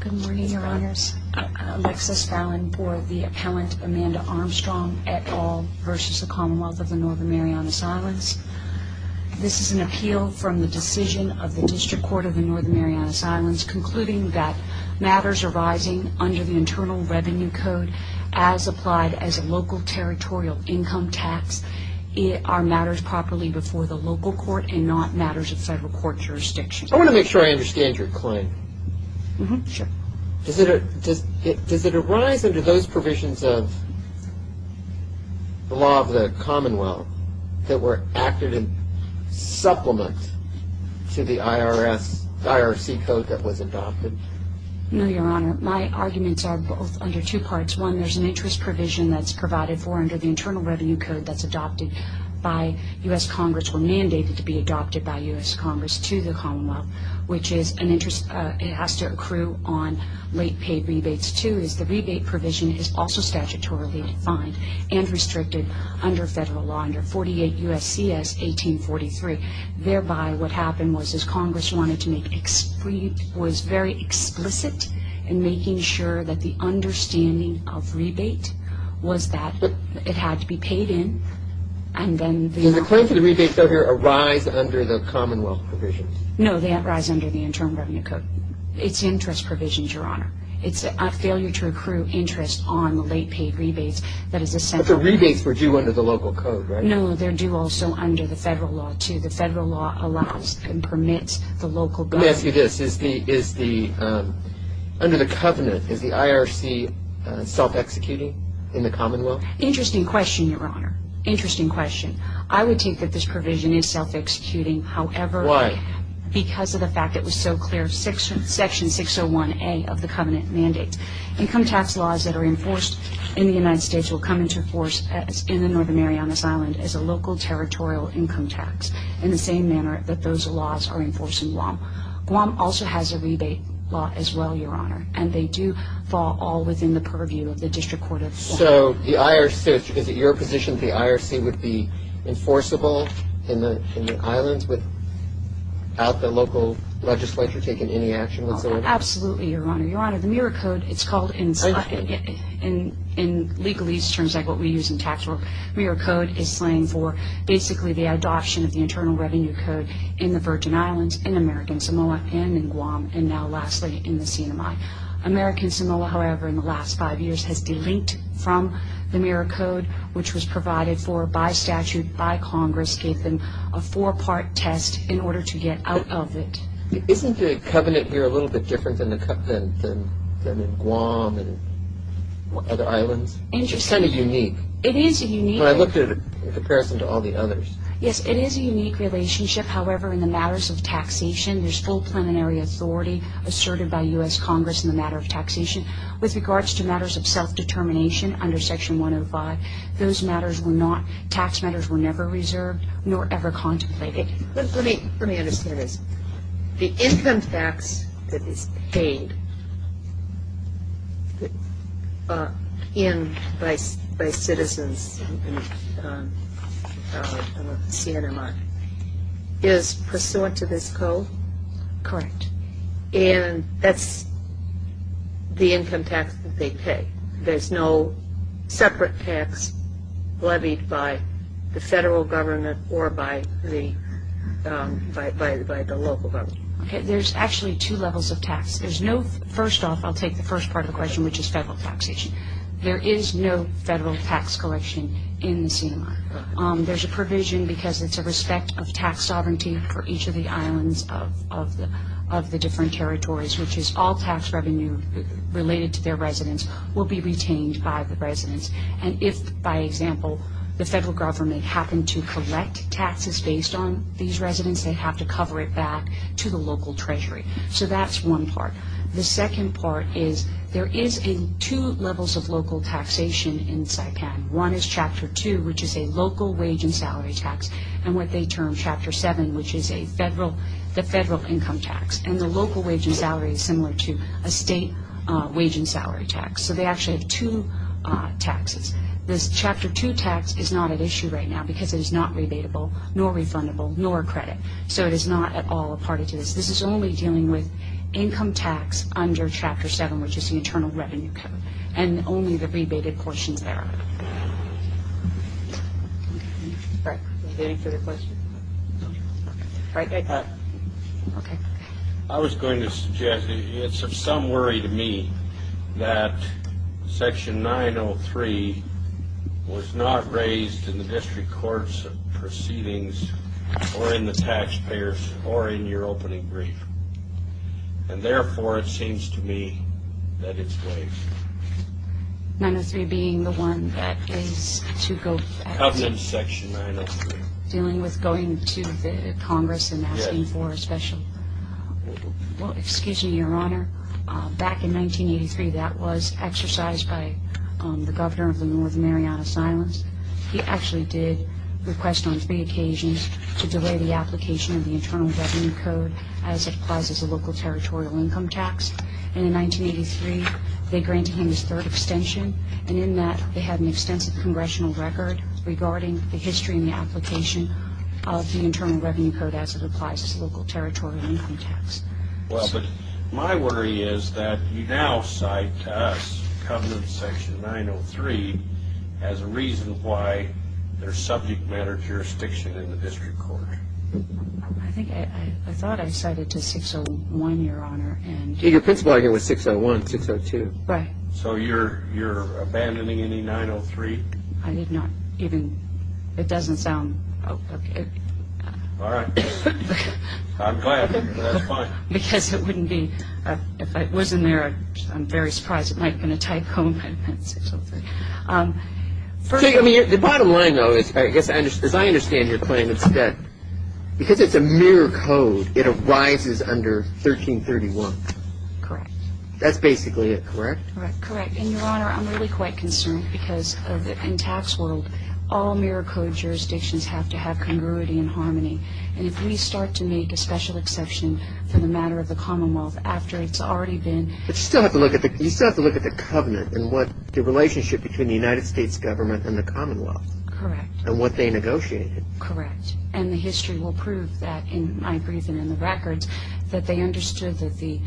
Good morning, your honors. Alexis Fallon for the appellant Amanda Armstrong et al. This is an appeal from the decision of the District Court of the Northern Marianas Islands concluding that matters arising under the Internal Revenue Code as applied as a local territorial income tax are matters properly before the local court and not matters of federal court jurisdiction. I want to make sure I understand your claim. Does it arise under those provisions of the law of the commonwealth that were acted in supplement to the IRC code that was adopted? No, your honor. My arguments are both under two parts. One, there's an interest provision that's provided for under the Internal Revenue Code that's adopted by U.S. Congress or mandated to be adopted by U.S. Congress to the commonwealth, which is an interest. It has to accrue on late paid rebates, too, as the rebate provision is also statutorily defined and restricted under federal law under 48 U.S.C.S. 1843. Thereby, what happened was Congress wanted to make, was very explicit in making sure that the understanding of rebate was that it had to be paid in and then... Does the claim for the rebate, though, arise under the commonwealth provisions? No, they arise under the Internal Revenue Code. It's interest provisions, your honor. It's a failure to accrue interest on late paid rebates. But the rebates were due under the local code, right? No, they're due also under the federal law, too. The federal law allows and permits the local government... Let me ask you this. Is the, under the covenant, is the IRC self-executing in the commonwealth? Interesting question, your honor. Interesting question. I would take that this provision is self-executing, however... Why? Because of the fact it was so clear, Section 601A of the covenant mandate. Income tax laws that are enforced in the United States will come into force in the Northern area on this island as a local territorial income tax, in the same manner that those laws are enforced in Guam. Guam also has a rebate law as well, your honor. And they do fall all within the purview of the District Court of Guam. So the IRC, is it your position the IRC would be enforceable in the islands without the local legislature taking any action whatsoever? Absolutely, your honor. Your honor, the MIRA code, it's called in legalese terms like what we use in tax law, MIRA code is slang for basically the adoption of the Internal Revenue Code in the Virgin Islands, in American Samoa, and in Guam, and now lastly in the Sinai. American Samoa, however, in the last five years has delinked from the MIRA code, which was provided for by statute by Congress, gave them a four-part test in order to get out of it. Isn't the covenant here a little bit different than in Guam and other islands? Interesting. It's kind of unique. It is unique. I looked at it in comparison to all the others. Yes, it is a unique relationship. However, in the matters of taxation, there's full preliminary authority asserted by U.S. Congress in the matter of taxation. With regards to matters of self-determination under Section 105, those matters were not, tax matters were never reserved nor ever contemplated. Let me understand this. The income tax that is paid in by citizens in the CNMR is pursuant to this code? Correct. And that's the income tax that they pay. There's no separate tax levied by the federal government or by the local government. Okay. There's actually two levels of tax. There's no, first off, I'll take the first part of the question, which is federal taxation. There is no federal tax collection in the CNMR. There's a provision because it's a respect of tax sovereignty for each of the islands of the different territories, which is all tax revenue related to their residents will be retained by the residents. And if, by example, the federal government happened to collect taxes based on these residents, they have to cover it back to the local treasury. So that's one part. The second part is there is two levels of local taxation in Saipan. One is Chapter 2, which is a local wage and salary tax, and what they term Chapter 7, which is a federal, the federal income tax. And the local wage and salary is similar to a state wage and salary tax. So they actually have two taxes. This Chapter 2 tax is not at issue right now because it is not rebatable, nor refundable, nor credit. So it is not at all a part of this. This is only dealing with income tax under Chapter 7, which is the Internal Revenue Code, and only the rebated portions thereof. All right. Any further questions? All right. Thank you. Okay. I was going to suggest it's of some worry to me that Section 903 was not raised in the district courts proceedings or in the taxpayers or in your opening brief. And, therefore, it seems to me that it's waived. 903 being the one that is to go after. How is that Section 903? Dealing with going to the Congress and asking for a special. Well, excuse me, Your Honor. Back in 1983, that was exercised by the governor of the North Mariana Islands. He actually did request on three occasions to delay the application of the Internal Revenue Code as it applies as a local territorial income tax. And in 1983, they granted him his third extension. And in that, they had an extensive congressional record regarding the history and the application of the Internal Revenue Code as it applies as a local territorial income tax. Well, but my worry is that you now cite us, the governor of Section 903, as a reason why they're subject matter of jurisdiction in the district court. I think I thought I cited to 601, Your Honor. Your principal argument was 601, 602. Right. So you're abandoning any 903? I did not even. It doesn't sound. All right. I'm glad. That's fine. Because it wouldn't be. If it wasn't there, I'm very surprised. It might have been a tycoon. The bottom line, though, is I guess as I understand your claim, because it's a mere code, it arises under 1331. Correct. That's basically it, correct? Correct. And, Your Honor, I'm really quite concerned because in tax world, all mere code jurisdictions have to have congruity and harmony. And if we start to make a special exception for the matter of the Commonwealth after it's already been ---- But you still have to look at the covenant and what the relationship between the United States government and the Commonwealth. Correct. And what they negotiated. Correct. And the history will prove that in my brief and in the records that they understood that the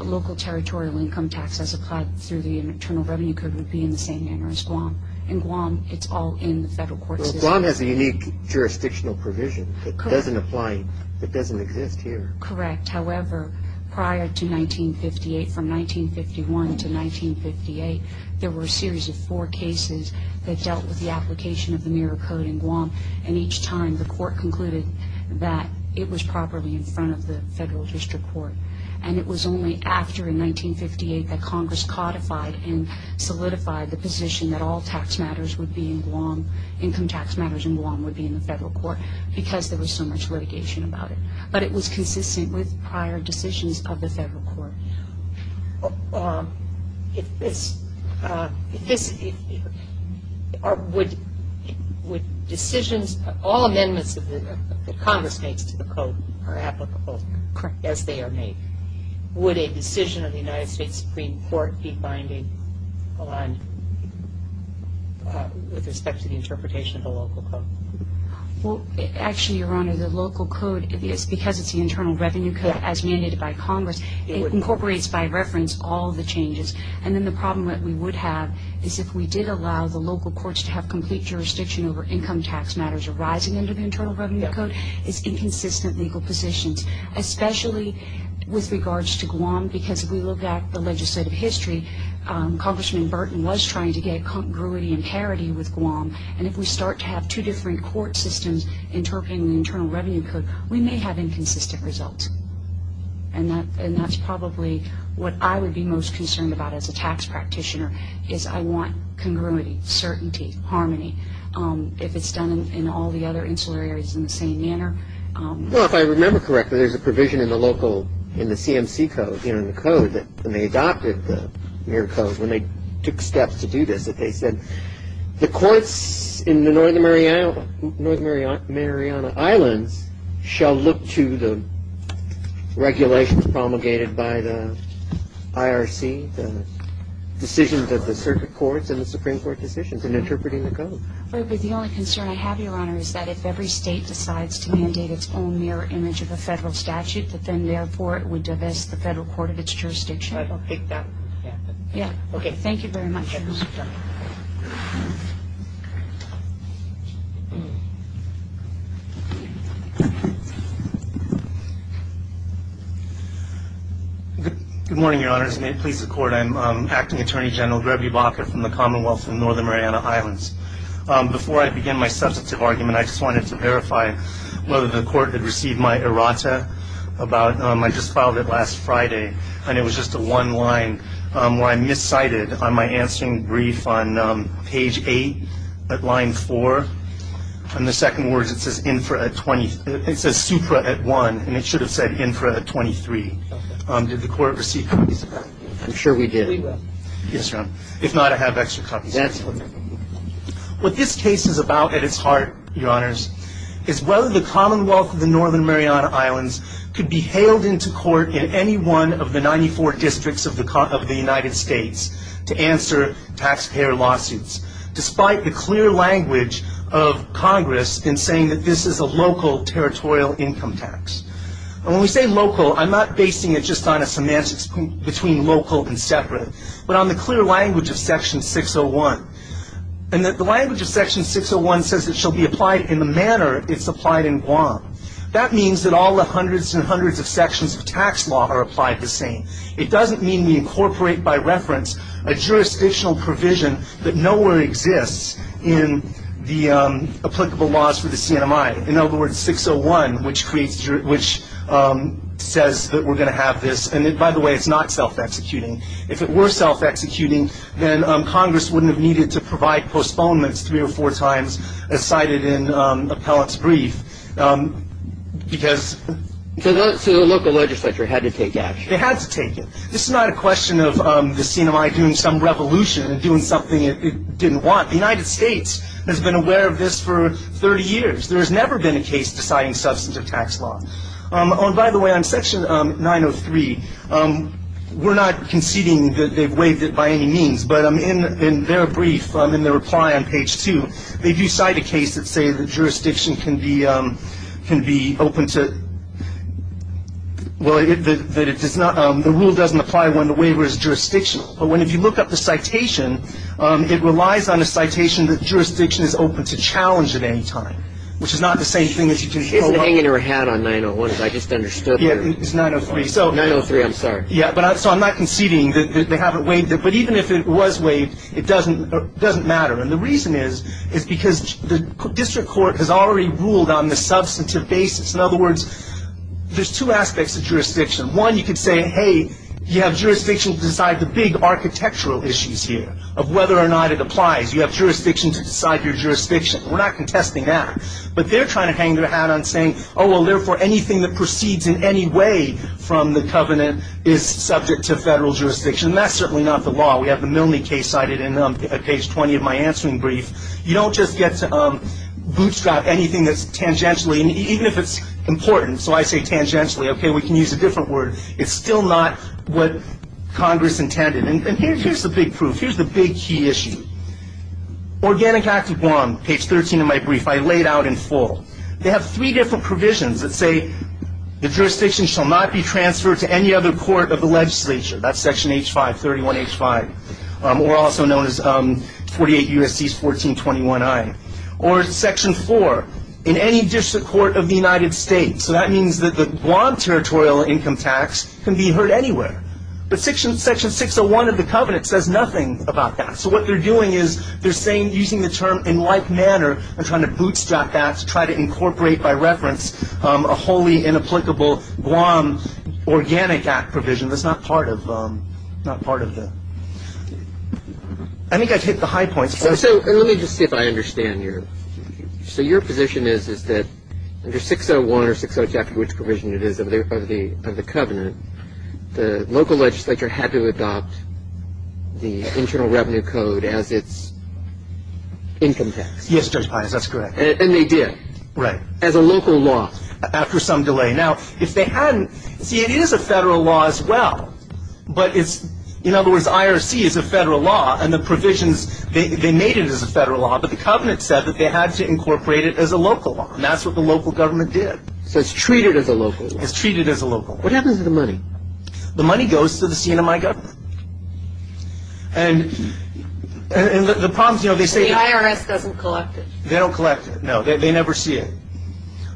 local territorial income tax as applied through the Internal Revenue Code would be in the same manner as Guam. In Guam, it's all in the federal court system. Well, Guam has a unique jurisdictional provision that doesn't apply, that doesn't exist here. Correct. However, prior to 1958, from 1951 to 1958, there were a series of four cases that dealt with the application of the mere code in Guam. And each time, the court concluded that it was properly in front of the federal district court. And it was only after, in 1958, that Congress codified and solidified the position that all tax matters would be in Guam, income tax matters in Guam, would be in the federal court because there was so much litigation about it. But it was consistent with prior decisions of the federal court. If this, would decisions, all amendments that Congress makes to the code are applicable as they are made? Correct. Would a decision of the United States Supreme Court be binding with respect to the interpretation of the local code? Well, actually, Your Honor, the local code, because it's the Internal Revenue Code as mandated by Congress, it incorporates by reference all the changes. And then the problem that we would have is if we did allow the local courts to have complete jurisdiction over income tax matters arising under the Internal Revenue Code, is inconsistent legal positions, especially with regards to Guam, because if we look at the legislative history, Congressman Burton was trying to get congruity and parity with Guam. And if we start to have two different court systems interpreting the Internal Revenue Code, we may have inconsistent results. And that's probably what I would be most concerned about as a tax practitioner, is I want congruity, certainty, harmony. If it's done in all the other insular areas in the same manner. Well, if I remember correctly, there's a provision in the local, in the CMC code, you know, in the code, when they adopted the mere code, when they took steps to do this, that they said, the courts in the Northern Mariana Islands shall look to the regulations promulgated by the IRC, the decisions of the circuit courts and the Supreme Court decisions in interpreting the code. The only concern I have, Your Honor, is that if every state decides to mandate its own mere image of a federal statute, that then therefore it would divest the federal court of its jurisdiction. I don't think that would happen. Yeah. Okay. Thank you very much, Your Honor. Good morning, Your Honors. May it please the Court. I'm Acting Attorney General Greggy Bockert from the Commonwealth of the Northern Mariana Islands. Before I begin my substantive argument, I just wanted to verify whether the Court had received my errata about, I just filed it last Friday, and it was just the one line where I miscited on my answering brief on page 8 at line 4. On the second word, it says supra at 1, and it should have said infra at 23. Did the Court receive copies of that? I'm sure we did. Yes, Your Honor. If not, I have extra copies. What this case is about at its heart, Your Honors, is whether the Commonwealth of the Northern Mariana Islands could be hailed into court in any one of the 94 districts of the United States to answer taxpayer lawsuits, despite the clear language of Congress in saying that this is a local territorial income tax. And when we say local, I'm not basing it just on a semantics between local and separate, but on the clear language of Section 601, and that the language of Section 601 says it shall be applied in the manner it's applied in Guam. That means that all the hundreds and hundreds of sections of tax law are applied the same. It doesn't mean we incorporate by reference a jurisdictional provision that nowhere exists in the applicable laws for the CNMI. In other words, 601, which says that we're going to have this, and by the way, it's not self-executing. If it were self-executing, then Congress wouldn't have needed to provide postponements three or four times, as cited in Appellant's brief, because... So the local legislature had to take action. They had to take it. This is not a question of the CNMI doing some revolution and doing something it didn't want. The United States has been aware of this for 30 years. There has never been a case deciding substantive tax law. Oh, and by the way, on Section 903, we're not conceding that they've waived it by any means, but in their brief, in their reply on page two, they do cite a case that says that jurisdiction can be open to... Well, the rule doesn't apply when the waiver is jurisdictional. But if you look up the citation, it relies on a citation that jurisdiction is open to challenge at any time, which is not the same thing that you can... It's hanging her hat on 901, as I just understood. Yeah, it's 903. 903, I'm sorry. Yeah, so I'm not conceding that they haven't waived it. But even if it was waived, it doesn't matter. And the reason is, is because the district court has already ruled on the substantive basis. In other words, there's two aspects of jurisdiction. One, you could say, hey, you have jurisdiction to decide the big architectural issues here, of whether or not it applies. You have jurisdiction to decide your jurisdiction. We're not contesting that. But they're trying to hang their hat on saying, oh, well, therefore, anything that proceeds in any way from the covenant is subject to federal jurisdiction. And that's certainly not the law. We have the Milne case cited in page 20 of my answering brief. You don't just get to bootstrap anything that's tangentially, even if it's important. So I say tangentially. Okay, we can use a different word. It's still not what Congress intended. And here's the big proof. Here's the big key issue. Organic Act of Guam, page 13 of my brief, I laid out in full. They have three different provisions that say the jurisdiction shall not be transferred to any other court of the legislature. That's section H5, 31H5, or also known as 48 U.S.C. 1421I. Or section 4, in any district court of the United States. So that means that the Guam territorial income tax can be heard anywhere. But section 601 of the covenant says nothing about that. So what they're doing is they're saying, using the term in like manner, and trying to bootstrap that to try to incorporate by reference a wholly inapplicable Guam organic act provision. That's not part of the – I think I've hit the high points. So let me just see if I understand your – so your position is that under 601 or 602, after which provision it is of the covenant, the local legislature had to adopt the Internal Revenue Code as its income tax. Yes, Judge Pius, that's correct. And they did. Right. As a local law. After some delay. Now, if they hadn't – see, it is a federal law as well. But it's – in other words, IRC is a federal law, and the provisions, they made it as a federal law, but the covenant said that they had to incorporate it as a local law. And that's what the local government did. So it's treated as a local law. It's treated as a local law. What happens to the money? The money goes to the CNMI government. And the problems, you know, they say – The IRS doesn't collect it. They don't collect it, no. They never see it.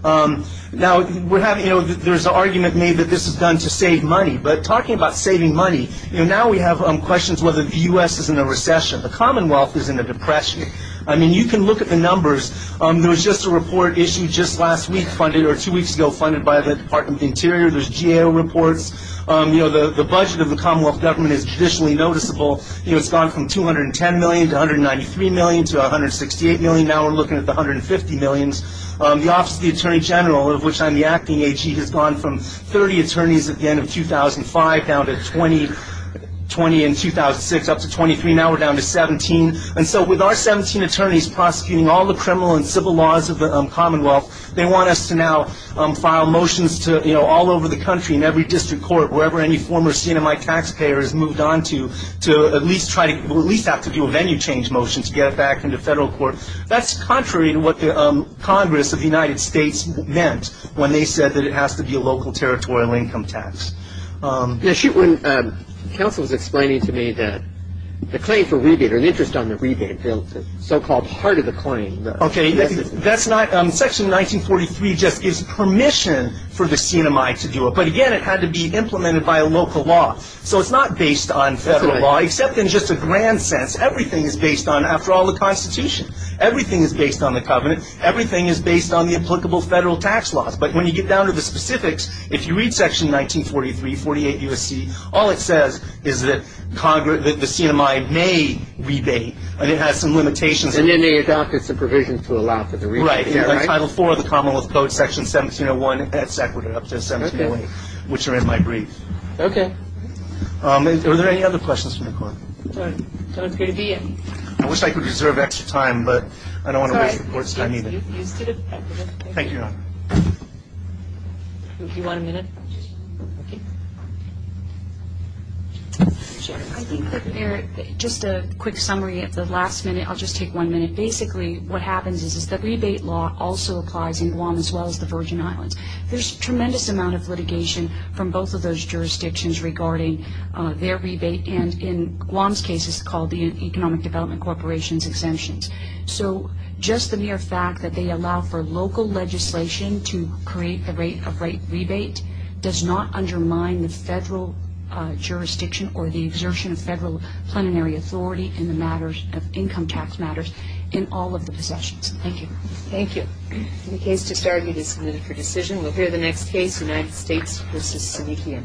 Now, we're having – you know, there's an argument made that this is done to save money. But talking about saving money, you know, now we have questions whether the U.S. is in a recession. The Commonwealth is in a depression. I mean, you can look at the numbers. There was just a report issued just last week funded – or two weeks ago funded by the Department of the Interior. There's GAO reports. You know, the budget of the Commonwealth government is traditionally noticeable. You know, it's gone from $210 million to $193 million to $168 million. Now we're looking at the $150 million. The Office of the Attorney General, of which I'm the acting AG, has gone from 30 attorneys at the end of 2005 down to 20 in 2006, up to 23. Now we're down to 17. And so with our 17 attorneys prosecuting all the criminal and civil laws of the Commonwealth, they want us to now file motions to, you know, all over the country in every district court, wherever any former CNMI taxpayer has moved on to, to at least try to – That's contrary to what the Congress of the United States meant when they said that it has to be a local territorial income tax. Yeah, when counsel was explaining to me that the claim for rebate, or an interest on the rebate bill, the so-called heart of the claim. Okay, that's not – Section 1943 just gives permission for the CNMI to do it. But again, it had to be implemented by a local law. So it's not based on federal law, except in just a grand sense. Everything is based on – after all, the Constitution. Everything is based on the covenant. Everything is based on the applicable federal tax laws. But when you get down to the specifics, if you read Section 1943, 48 U.S.C., all it says is that the CNMI may rebate, and it has some limitations. And then they adopted some provisions to allow for the rebate. Right. In Title IV of the Commonwealth Code, Section 1701, it's equated up to 1708, which are in my brief. Okay. Are there any other questions from the court? So it's good to be in. I wish I could reserve extra time, but I don't want to waste the court's time either. Thank you, Your Honor. Do you want a minute? I think that there – just a quick summary at the last minute. I'll just take one minute. Basically what happens is that rebate law also applies in Guam as well as the Virgin Islands. There's a tremendous amount of litigation from both of those jurisdictions regarding their rebate. And in Guam's case, it's called the Economic Development Corporation's exemptions. So just the mere fact that they allow for local legislation to create the rate of rate rebate does not undermine the federal jurisdiction or the exertion of federal plenary authority in the matters of income tax matters in all of the possessions. Thank you. Thank you. The case to start with is submitted for decision. We'll hear the next case, United States v. Senechian.